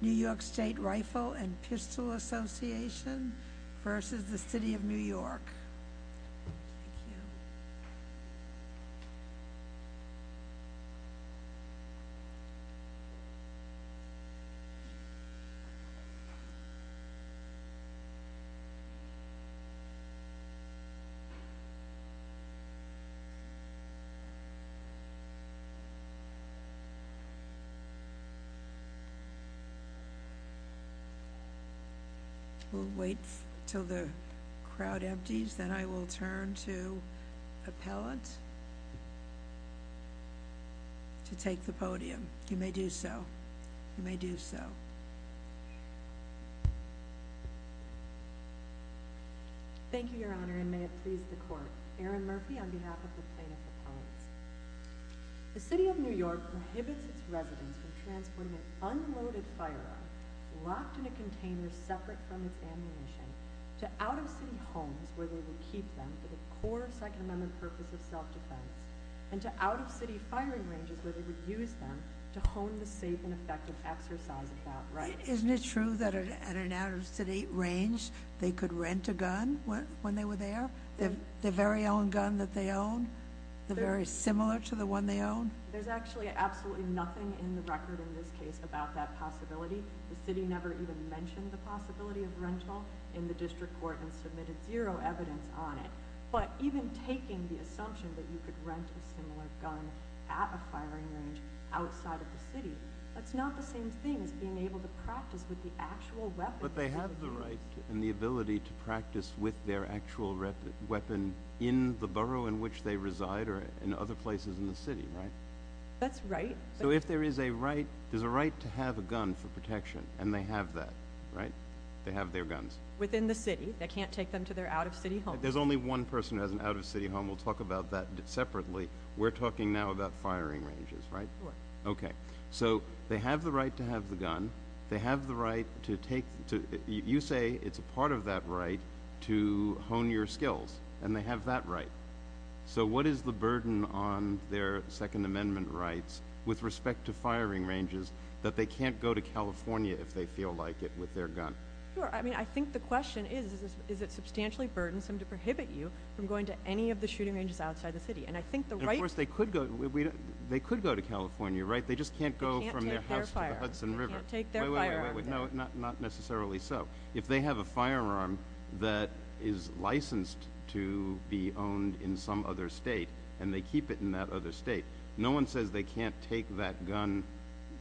New York State Rifle and Pistol Association v. City of New York We'll wait until the crowd empties, then I will turn to Appellant to take the podium. You may do so. You may do so. Thank you, Your Honor, and may it please the Court. Erin Murphy on behalf of the plaintiff's appellants. The City of New York prohibits its residents from transporting an unloaded firearm locked in a container separate from its ammunition to out-of-city homes where they would keep them for the core Second Amendment purpose of self-defense and to out-of-city firing ranges where they would use them to hone the safe and effective exercise of that right. Isn't it true that at an out-of-city range they could rent a gun when they were there? The very own gun that they own? The very similar to the one they own? There's actually absolutely nothing in the record in this case about that possibility. The city never even mentioned the possibility of rental in the district court and submitted zero evidence on it. But even taking the assumption that you could rent a similar gun at a firing range outside of the city, that's not the same thing as being able to practice with the actual weapon. But they have the right and the ability to practice with their actual weapon in the borough in which they reside or in other places in the city, right? That's right. So if there is a right, there's a right to have a gun for protection, and they have that, right? They have their guns. Within the city. They can't take them to their out-of-city homes. There's only one person who has an out-of-city home. We'll talk about that separately. We're talking now about firing ranges, right? Right. Okay. So they have the right to have the gun. They have the right to take the gun. You say it's a part of that right to hone your skills, and they have that right. So what is the burden on their Second Amendment rights with respect to firing ranges that they can't go to California if they feel like it with their gun? Sure. I mean, I think the question is, is it substantially burdensome to prohibit you from going to any of the shooting ranges outside the city? Of course, they could go to California, right? They just can't go from their house to the Hudson River. They can't take their firearm. Wait, wait, wait. Not necessarily so. If they have a firearm that is licensed to be owned in some other state and they keep it in that other state, no one says they can't take that gun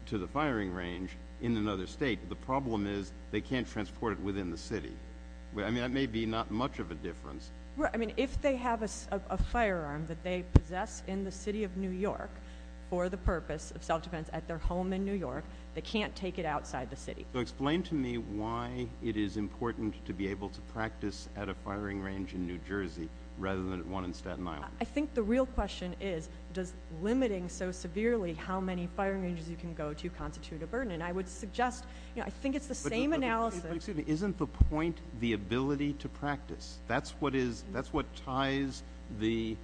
to the firing range in another state. The problem is they can't transport it within the city. I mean, that may be not much of a difference. Right. I mean, if they have a firearm that they possess in the city of New York for the purpose of self-defense at their home in New York, they can't take it outside the city. Explain to me why it is important to be able to practice at a firing range in New Jersey rather than one in Staten Island. I think the real question is, does limiting so severely how many firing ranges you can go to constitute a burden? And I would suggest, you know, I think it's the same analysis. But excuse me, isn't the point the ability to practice? That's what ties the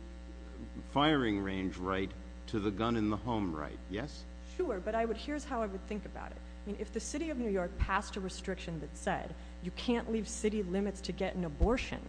firing range right to the gun in the home right, yes? Sure, but here's how I would think about it. I mean, if the city of New York passed a restriction that said you can't leave city limits to get an abortion,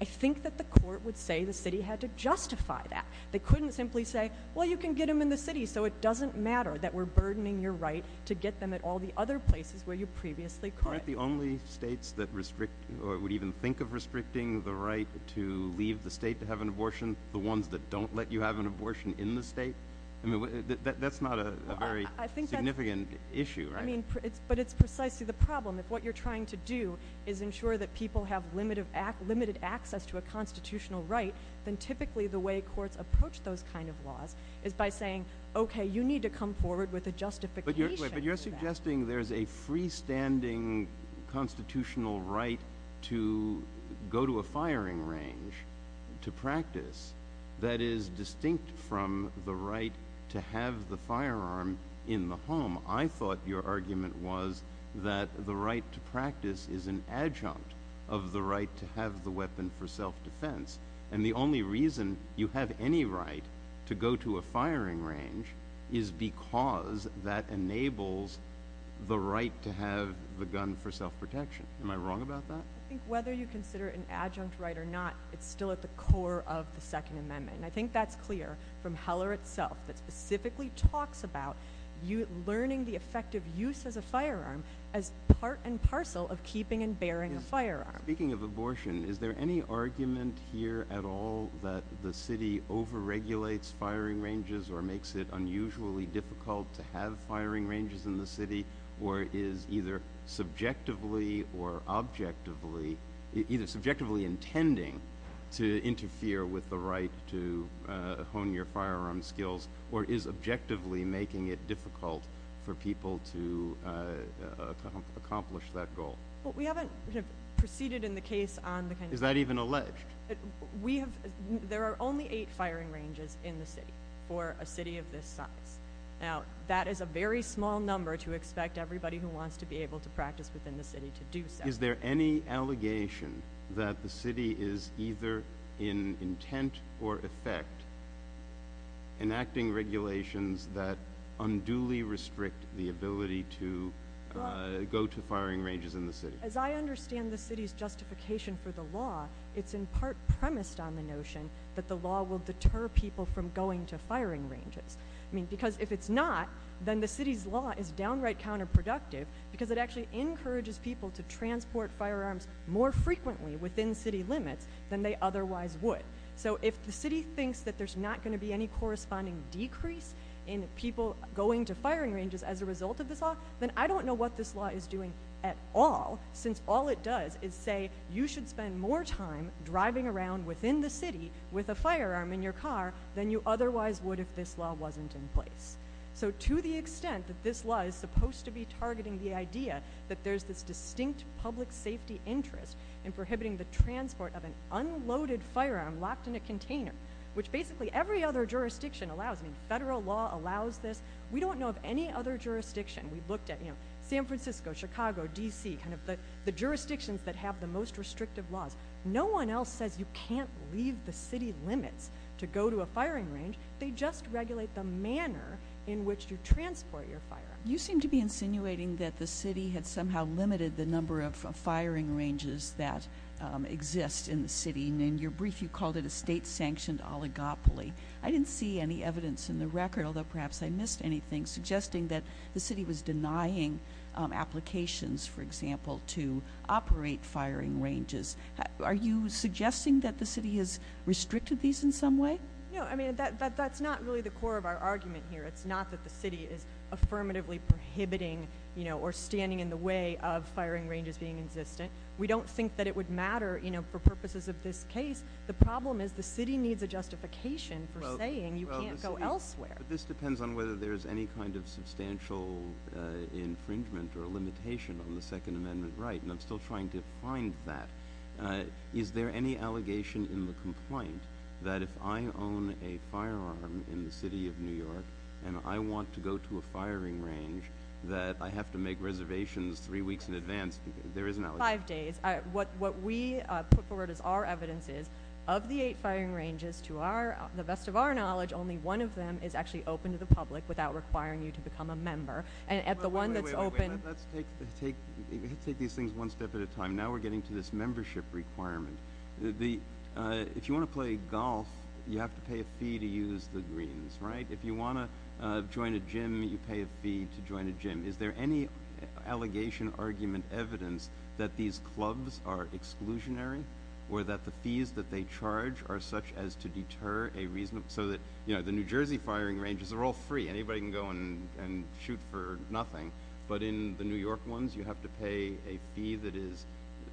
I think that the court would say the city had to justify that. They couldn't simply say, well, you can get them in the city, so it doesn't matter that we're burdening your right to get them at all the other places where you previously could. Aren't the only states that restrict or would even think of restricting the right to leave the state to have an abortion the ones that don't let you have an abortion in the state? I mean, that's not a very significant issue, right? But it's precisely the problem. If what you're trying to do is ensure that people have limited access to a constitutional right, then typically the way courts approach those kind of laws is by saying, okay, you need to come forward with a justification for that. I'm suggesting there's a freestanding constitutional right to go to a firing range to practice that is distinct from the right to have the firearm in the home. I thought your argument was that the right to practice is an adjunct of the right to have the weapon for self-defense. And the only reason you have any right to go to a firing range is because that enables the right to have the gun for self-protection. Am I wrong about that? I think whether you consider it an adjunct right or not, it's still at the core of the Second Amendment. And I think that's clear from Heller itself, that specifically talks about learning the effect of use as a firearm as part and parcel of keeping and bearing a firearm. Speaking of abortion, is there any argument here at all that the city over-regulates firing ranges or makes it unusually difficult to have firing ranges in the city or is either subjectively or objectively, either subjectively intending to interfere with the right to hone your firearm skills or is objectively making it difficult for people to accomplish that goal? We haven't proceeded in the case on the kind of— Is that even alleged? There are only eight firing ranges in the city for a city of this size. Now, that is a very small number to expect everybody who wants to be able to practice within the city to do so. Is there any allegation that the city is either in intent or effect enacting regulations that unduly restrict the ability to go to firing ranges in the city? As I understand the city's justification for the law, it's in part premised on the notion that the law will deter people from going to firing ranges. I mean, because if it's not, then the city's law is downright counterproductive because it actually encourages people to transport firearms more frequently within city limits than they otherwise would. So if the city thinks that there's not going to be any corresponding decrease in people going to firing ranges as a result of this law, then I don't know what this law is doing at all since all it does is say you should spend more time driving around within the city with a firearm in your car than you otherwise would if this law wasn't in place. So to the extent that this law is supposed to be targeting the idea that there's this distinct public safety interest in prohibiting the transport of an unloaded firearm locked in a container, which basically every other jurisdiction allows. I mean, federal law allows this. We don't know of any other jurisdiction. We've looked at San Francisco, Chicago, D.C., kind of the jurisdictions that have the most restrictive laws. No one else says you can't leave the city limits to go to a firing range. They just regulate the manner in which you transport your firearm. You seem to be insinuating that the city had somehow limited the number of firing ranges that exist in the city. In your brief, you called it a state-sanctioned oligopoly. I didn't see any evidence in the record, although perhaps I missed anything, suggesting that the city was denying applications, for example, to operate firing ranges. Are you suggesting that the city has restricted these in some way? No, I mean, that's not really the core of our argument here. It's not that the city is affirmatively prohibiting or standing in the way of firing ranges being existent. We don't think that it would matter for purposes of this case. The problem is the city needs a justification for saying you can't go elsewhere. But this depends on whether there's any kind of substantial infringement or limitation on the Second Amendment right, and I'm still trying to find that. Is there any allegation in the complaint that if I own a firearm in the city of New York and I want to go to a firing range that I have to make reservations three weeks in advance? There is an allegation. Five days. What we put forward as our evidence is of the eight firing ranges, to the best of our knowledge, only one of them is actually open to the public without requiring you to become a member. Wait, wait, wait. Let's take these things one step at a time. Now we're getting to this membership requirement. If you want to play golf, you have to pay a fee to use the greens, right? If you want to join a gym, you pay a fee to join a gym. Is there any allegation, argument, evidence that these clubs are exclusionary or that the fees that they charge are such as to deter a reasonable so that, you know, the New Jersey firing ranges are all free. Anybody can go and shoot for nothing. But in the New York ones, you have to pay a fee that is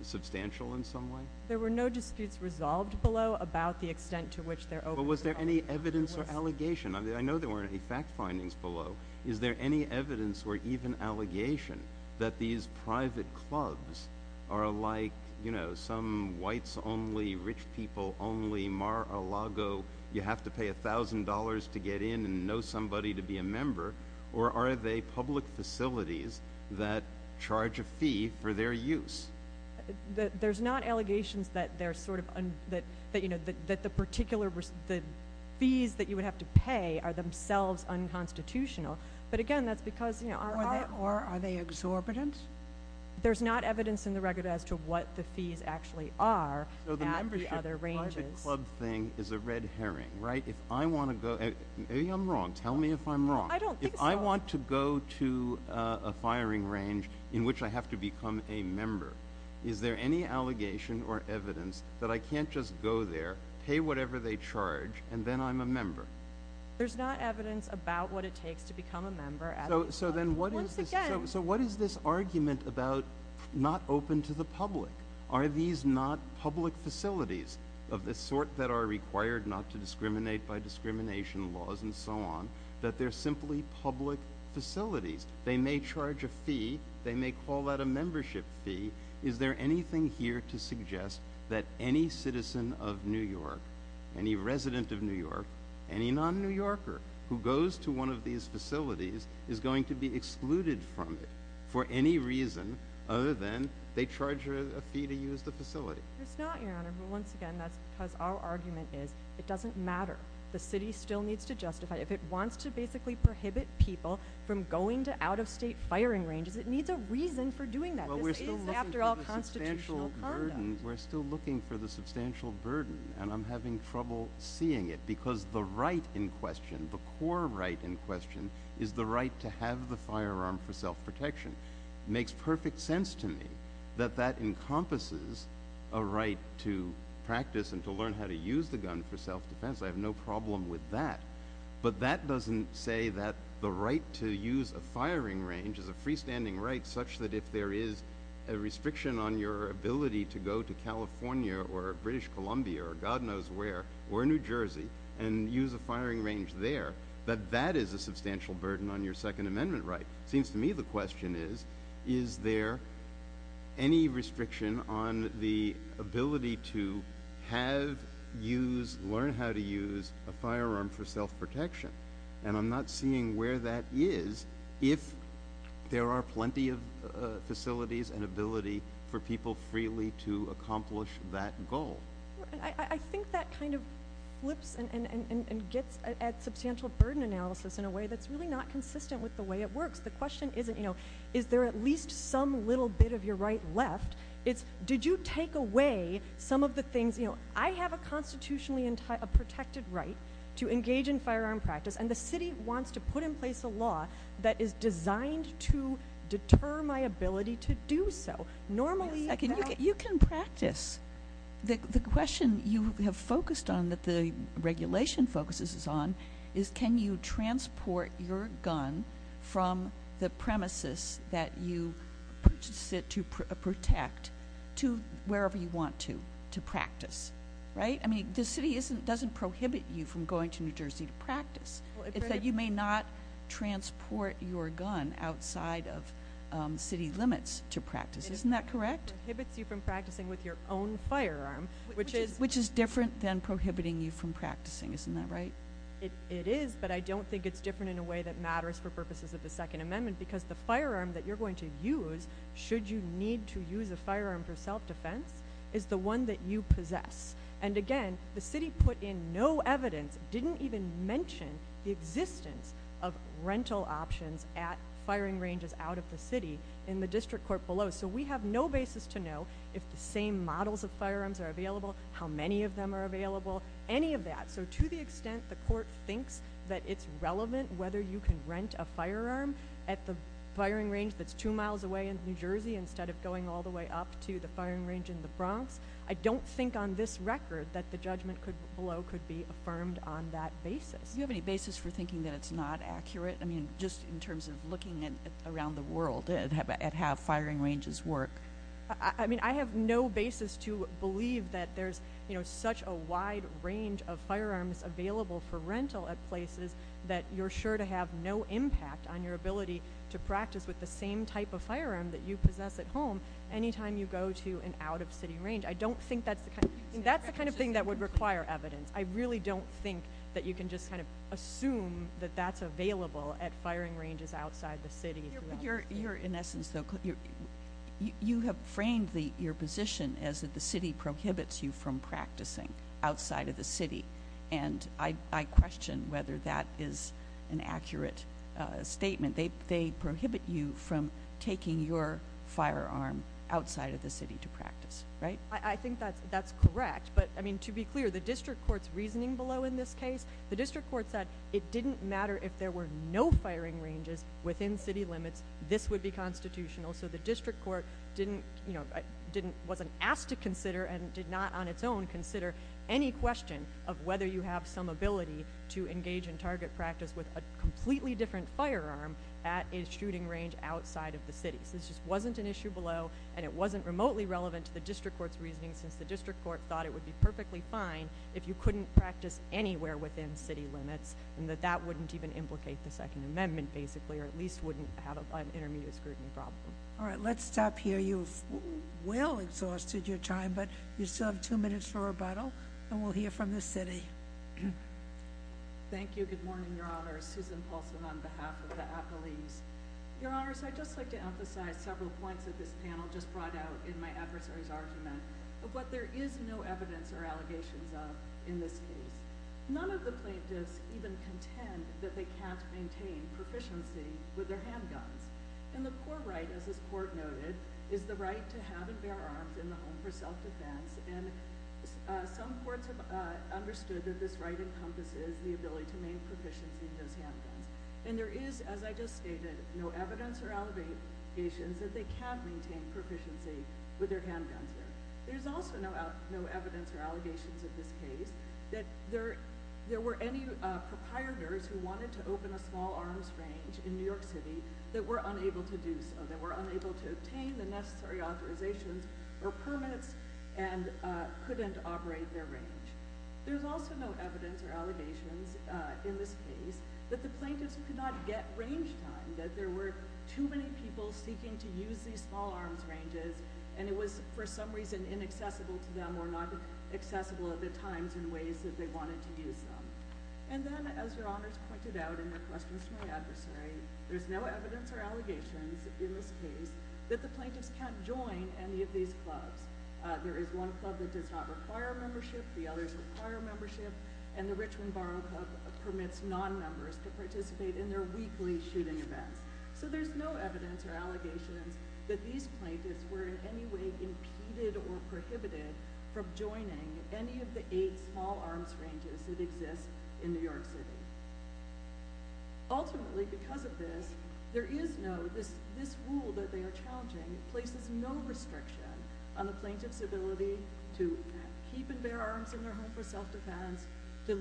substantial in some way? There were no disputes resolved below about the extent to which they're open to the public. But was there any evidence or allegation? I know there weren't any fact findings below. Is there any evidence or even allegation that these private clubs are like, you know, some whites only, rich people only, Mar-a-Lago, you have to pay $1,000 to get in and know somebody to be a member, or are they public facilities that charge a fee for their use? There's not allegations that they're sort of, you know, that the particular fees that you would have to pay are themselves unconstitutional. But, again, that's because, you know, our art. Or are they exorbitant? There's not evidence in the record as to what the fees actually are at the other ranges. So the membership private club thing is a red herring, right? If I want to go to the club. Maybe I'm wrong. Tell me if I'm wrong. I don't think so. If I want to go to a firing range in which I have to become a member, is there any allegation or evidence that I can't just go there, pay whatever they charge, and then I'm a member? There's not evidence about what it takes to become a member at a club. So then what is this argument about not open to the public? Are these not public facilities of the sort that are required not to discriminate by discrimination laws and so on, that they're simply public facilities? They may charge a fee. They may call that a membership fee. Is there anything here to suggest that any citizen of New York, any resident of New York, any non-New Yorker who goes to one of these facilities is going to be excluded from it for any reason other than they charge a fee to use the facility? There's not, Your Honor. But once again, that's because our argument is it doesn't matter. The city still needs to justify it. If it wants to basically prohibit people from going to out-of-state firing ranges, it needs a reason for doing that. This is, after all, constitutional conduct. We're still looking for the substantial burden, and I'm having trouble seeing it because the right in question, the core right in question, is the right to have the firearm for self-protection. It makes perfect sense to me that that encompasses a right to practice and to learn how to use the gun for self-defense. I have no problem with that. But that doesn't say that the right to use a firing range is a freestanding right such that if there is a restriction on your ability to go to California or British Columbia or God knows where or New Jersey and use a firing range there, that that is a substantial burden on your Second Amendment right. It seems to me the question is, is there any restriction on the ability to have, use, learn how to use a firearm for self-protection? And I'm not seeing where that is if there are plenty of facilities and ability for people freely to accomplish that goal. I think that kind of flips and gets at substantial burden analysis in a way that's really not consistent with the way it works. The question isn't, you know, is there at least some little bit of your right left. It's did you take away some of the things, you know, I have a constitutionally protected right to engage in firearm practice and the city wants to put in place a law that is designed to deter my ability to do so. Normally you can practice. The question you have focused on that the regulation focuses on is can you transport your gun from the premises that you purchase it to protect to wherever you want to, to practice, right? I mean the city doesn't prohibit you from going to New Jersey to practice. It's that you may not transport your gun outside of city limits to practice. Isn't that correct? It prohibits you from practicing with your own firearm. Which is different than prohibiting you from practicing. Isn't that right? It is, but I don't think it's different in a way that matters for purposes of the Second Amendment because the firearm that you're going to use should you need to use a firearm for self-defense is the one that you possess. And again, the city put in no evidence, didn't even mention the existence of rental options at firing ranges out of the city in the district court below. So we have no basis to know if the same models of firearms are available, how many of them are available, any of that. So to the extent the court thinks that it's relevant whether you can rent a firearm at the firing range that's two miles away in New Jersey instead of going all the way up to the firing range in the Bronx, I don't think on this record that the judgment below could be affirmed on that basis. Do you have any basis for thinking that it's not accurate? I mean just in terms of looking around the world at how firing ranges work. I mean I have no basis to believe that there's such a wide range of firearms available for rental at places that you're sure to have no impact on your ability to practice with the same type of firearm that you possess at home anytime you go to an out-of-city range. I don't think that's the kind of thing that would require evidence. I really don't think that you can just kind of assume that that's available at firing ranges outside the city. You're in essence, though, you have framed your position as if the city prohibits you from practicing outside of the city. And I question whether that is an accurate statement. They prohibit you from taking your firearm outside of the city to practice, right? I think that's correct. But I mean to be clear, the district court's reasoning below in this case, the district court said it didn't matter if there were no firing ranges within city limits, this would be constitutional. So the district court wasn't asked to consider and did not on its own consider any question of whether you have some ability to engage in target practice with a completely different firearm at a shooting range outside of the city. So this just wasn't an issue below and it wasn't remotely relevant to the district court's reasoning since the district court thought it would be perfectly fine if you couldn't practice anywhere within city limits and that that wouldn't even implicate the Second Amendment basically or at least wouldn't have an intermediate scrutiny problem. All right, let's stop here. I know you've well exhausted your time, but you still have two minutes for rebuttal and we'll hear from the city. Thank you. Good morning, Your Honor. Susan Paulson on behalf of the appellees. Your Honors, I'd just like to emphasize several points that this panel just brought out in my adversary's argument of what there is no evidence or allegations of in this case. None of the plaintiffs even contend that they can't maintain proficiency with their handguns. And the core right, as this court noted, is the right to have and bear arms in the home for self-defense and some courts have understood that this right encompasses the ability to maintain proficiency with those handguns. And there is, as I just stated, no evidence or allegations that they can maintain proficiency with their handguns there. There's also no evidence or allegations in this case that there were any proprietors who wanted to open a small arms range in New York City that were unable to do so, that were unable to obtain the necessary authorizations or permits and couldn't operate their range. There's also no evidence or allegations in this case that the plaintiffs could not get range time, that there were too many people seeking to use these small arms ranges and it was for some reason inaccessible to them or not accessible at the times in ways that they wanted to use them. And then, as Your Honors pointed out in your questions to my adversary, there's no evidence or allegations in this case that the plaintiffs can't join any of these clubs. There is one club that does not require membership, the others require membership, and the Richmond Borough Club permits non-members to participate in their weekly shooting events. So there's no evidence or allegations that these plaintiffs were in any way impeded or prohibited from joining any of the eight small arms ranges that exist in New York City. Ultimately, because of this, there is no, this rule that they are challenging places no restriction on the plaintiff's ability to keep and bear arms in their home for self-defense, to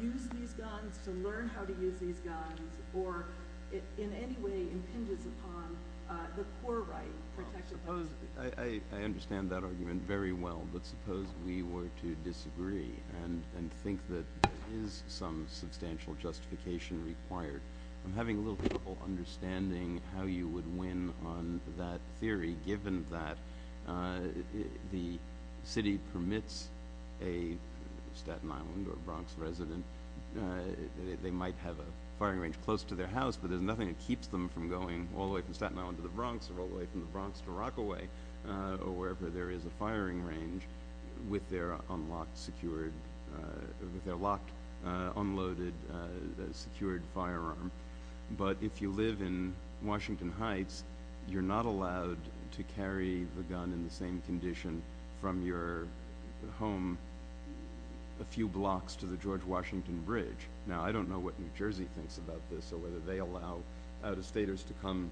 use these guns, to learn how to use these guns, or in any way impinges upon the poor right. I understand that argument very well, but suppose we were to disagree and think that there is some substantial justification required. I'm having a little trouble understanding how you would win on that theory, given that the city permits a Staten Island or Bronx resident, they might have a firing range close to their house, but there's nothing that keeps them from going all the way from Staten Island to the Bronx, or all the way from the Bronx to Rockaway, or wherever there is a firing range, with their unlocked, secured, with their locked, unloaded, secured firearm. But if you live in Washington Heights, you're not allowed to carry the gun in the same condition from your home a few blocks to the George Washington Bridge. Now, I don't know what New Jersey thinks about this, or whether they allow out-of-staters to come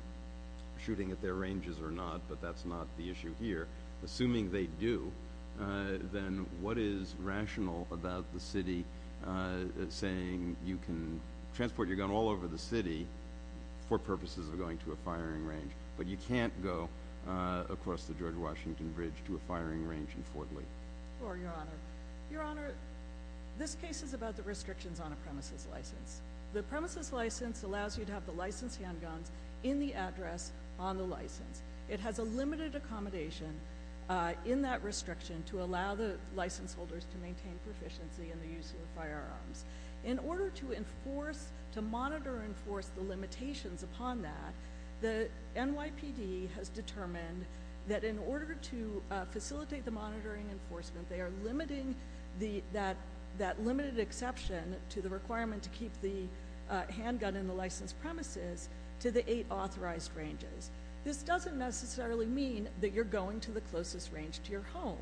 shooting at their ranges or not, but that's not the issue here. Assuming they do, then what is rational about the city saying you can transport your gun all over the city for purposes of going to a firing range, but you can't go across the George Washington Bridge to a firing range in Fort Lee? Sure, Your Honor. Your Honor, this case is about the restrictions on a premises license. The premises license allows you to have the license handguns in the address on the license. It has a limited accommodation in that restriction to allow the license holders to maintain proficiency in the use of firearms. In order to enforce, to monitor and enforce the limitations upon that, the NYPD has determined that in order to facilitate the monitoring enforcement, they are limiting that limited exception to the requirement to keep the handgun in the licensed premises to the eight authorized ranges. This doesn't necessarily mean that you're going to the closest range to your home.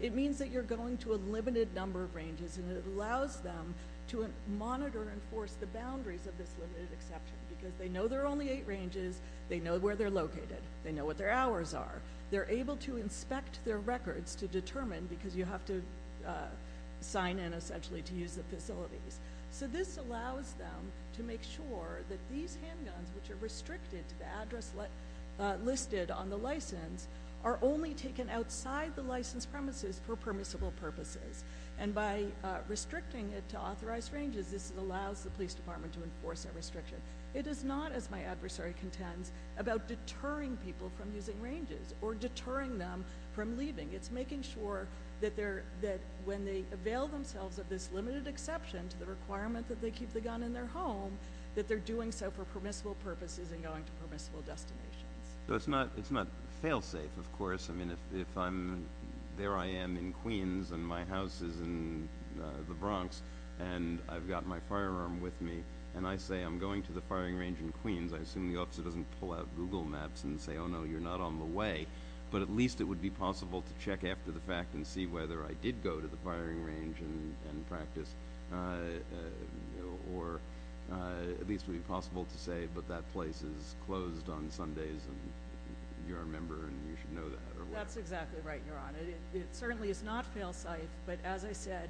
It means that you're going to a limited number of ranges, and it allows them to monitor and enforce the boundaries of this limited exception because they know there are only eight ranges. They know where they're located. They know what their hours are. They're able to inspect their records to determine, because you have to sign in essentially to use the facilities. So this allows them to make sure that these handguns, which are restricted to the address listed on the license, are only taken outside the licensed premises for permissible purposes. And by restricting it to authorized ranges, this allows the police department to enforce that restriction. It is not, as my adversary contends, about deterring people from using ranges or deterring them from leaving. It's making sure that when they avail themselves of this limited exception to the requirement that they keep the gun in their home, that they're doing so for permissible purposes and going to permissible destinations. So it's not fail-safe, of course. I mean, if I'm there I am in Queens and my house is in the Bronx and I've got my firearm with me and I say I'm going to the firing range in Queens, I assume the officer doesn't pull out Google Maps and say, oh, no, you're not on the way, but at least it would be possible to check after the fact and see whether I did go to the firing range and practice, or at least it would be possible to say, but that place is closed on Sundays and you're a member and you should know that. That's exactly right, Your Honor. It certainly is not fail-safe. But as I said,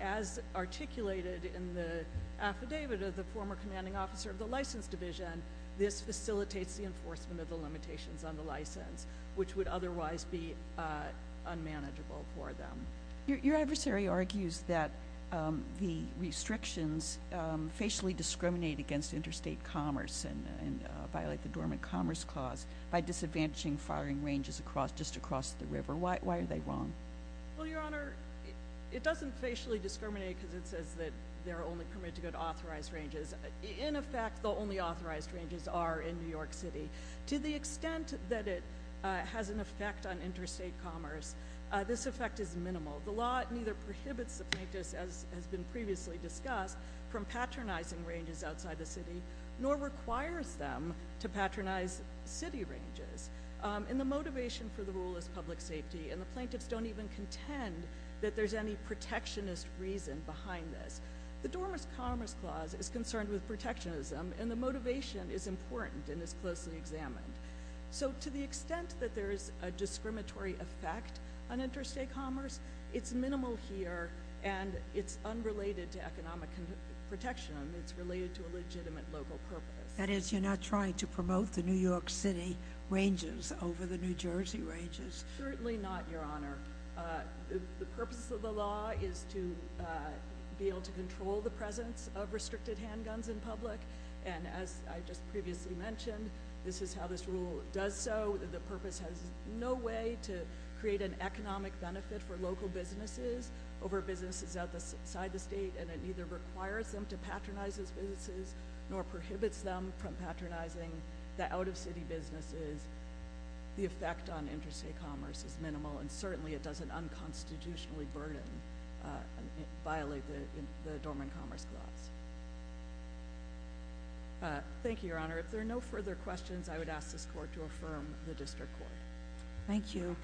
as articulated in the affidavit of the former commanding officer of the license division, this facilitates the enforcement of the limitations on the license, which would otherwise be unmanageable for them. Your adversary argues that the restrictions facially discriminate against interstate commerce and violate the Dormant Commerce Clause by disadvantaging firing ranges just across the river. Why are they wrong? Well, Your Honor, it doesn't facially discriminate because it says that they're only permitted to go to authorized ranges. In effect, the only authorized ranges are in New York City. To the extent that it has an effect on interstate commerce, this effect is minimal. The law neither prohibits the plaintiffs, as has been previously discussed, from patronizing ranges outside the city, nor requires them to patronize city ranges. And the motivation for the rule is public safety, and the plaintiffs don't even contend that there's any protectionist reason behind this. The Dormant Commerce Clause is concerned with protectionism, and the motivation is important and is closely examined. So to the extent that there is a discriminatory effect on interstate commerce, it's minimal here and it's unrelated to economic protection. It's related to a legitimate local purpose. That is, you're not trying to promote the New York City ranges over the New Jersey ranges. Certainly not, Your Honor. The purpose of the law is to be able to control the presence of restricted handguns in public, and as I just previously mentioned, this is how this rule does so. The purpose has no way to create an economic benefit for local businesses over businesses outside the state, and it neither requires them to patronize those businesses nor prohibits them from patronizing the out-of-city businesses. The effect on interstate commerce is minimal, and certainly it doesn't unconstitutionally burden and violate the Dormant Commerce Clause. Thank you, Your Honor. If there are no further questions, I would ask this Court to affirm the District Court. Thank you.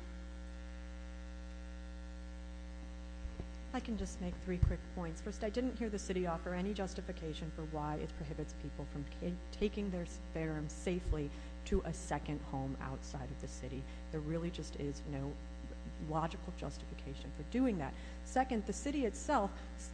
I can just make three quick points. First, I didn't hear the City offer any justification for why it prohibits people from taking their spherum safely to a second home outside of the City. There really just is no logical justification for doing that. Second, the City itself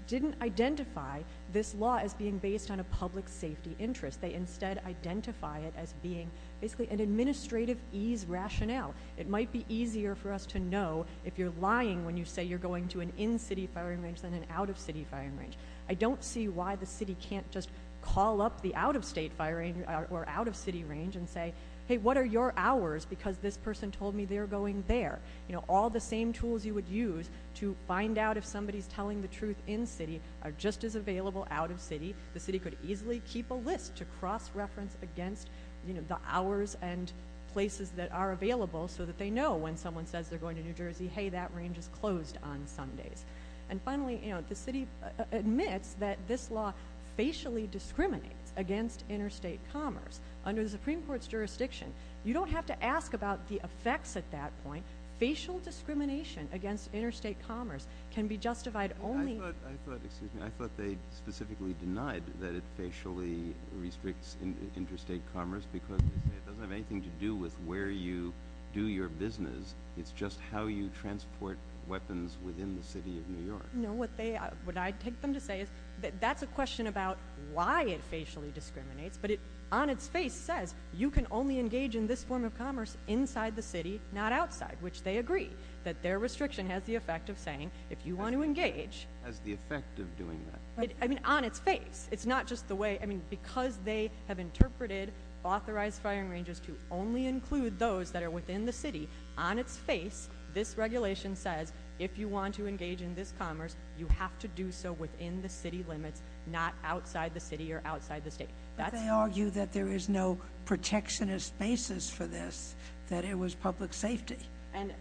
didn't identify this law as being based on a public safety interest. They instead identify it as being basically an administrative ease rationale. It might be easier for us to know if you're lying when you say you're going to an in-City firing range than an out-of-City firing range. I don't see why the City can't just call up the out-of-State firing or out-of-City range and say, hey, what are your hours because this person told me they're going there? All the same tools you would use to find out if somebody's telling the truth in-City are just as available out-of-City. The City could easily keep a list to cross-reference against the hours and places that are available so that they know when someone says they're going to New Jersey, hey, that range is closed on Sundays. And finally, the City admits that this law facially discriminates against interstate commerce. Under the Supreme Court's jurisdiction, you don't have to ask about the effects at that point. Facial discrimination against interstate commerce can be justified only I thought they specifically denied that it facially restricts interstate commerce because they say it doesn't have anything to do with where you do your business. It's just how you transport weapons within the City of New York. No, what I take them to say is that that's a question about why it facially discriminates, but it on its face says you can only engage in this form of commerce inside the City, not outside, which they agree that their restriction has the effect of saying if you want to engage- Has the effect of doing that? I mean, on its face. It's not just the way, I mean, because they have interpreted authorized firing ranges to only include those that are within the City, on its face, this regulation says if you want to engage in this commerce, you have to do so within the City limits, not outside the City or outside the State. But they argue that there is no protectionist basis for this, that it was public safety and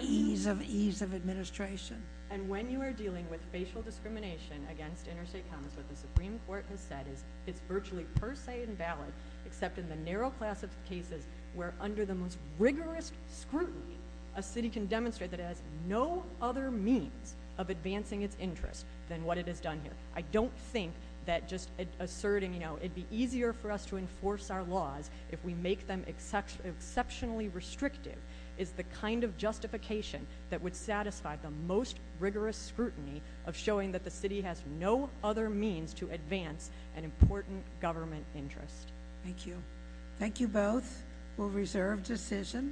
ease of administration. And when you are dealing with facial discrimination against interstate commerce, what the Supreme Court has said is it's virtually per se invalid, except in the narrow class of cases where under the most rigorous scrutiny, a city can demonstrate that it has no other means of advancing its interests than what it has done here. I don't think that just asserting, you know, it'd be easier for us to enforce our laws if we make them exceptionally restrictive is the kind of justification that would satisfy the most rigorous scrutiny of showing that the City has no other means to advance an important government interest. Thank you. Thank you both. We'll reserve decision.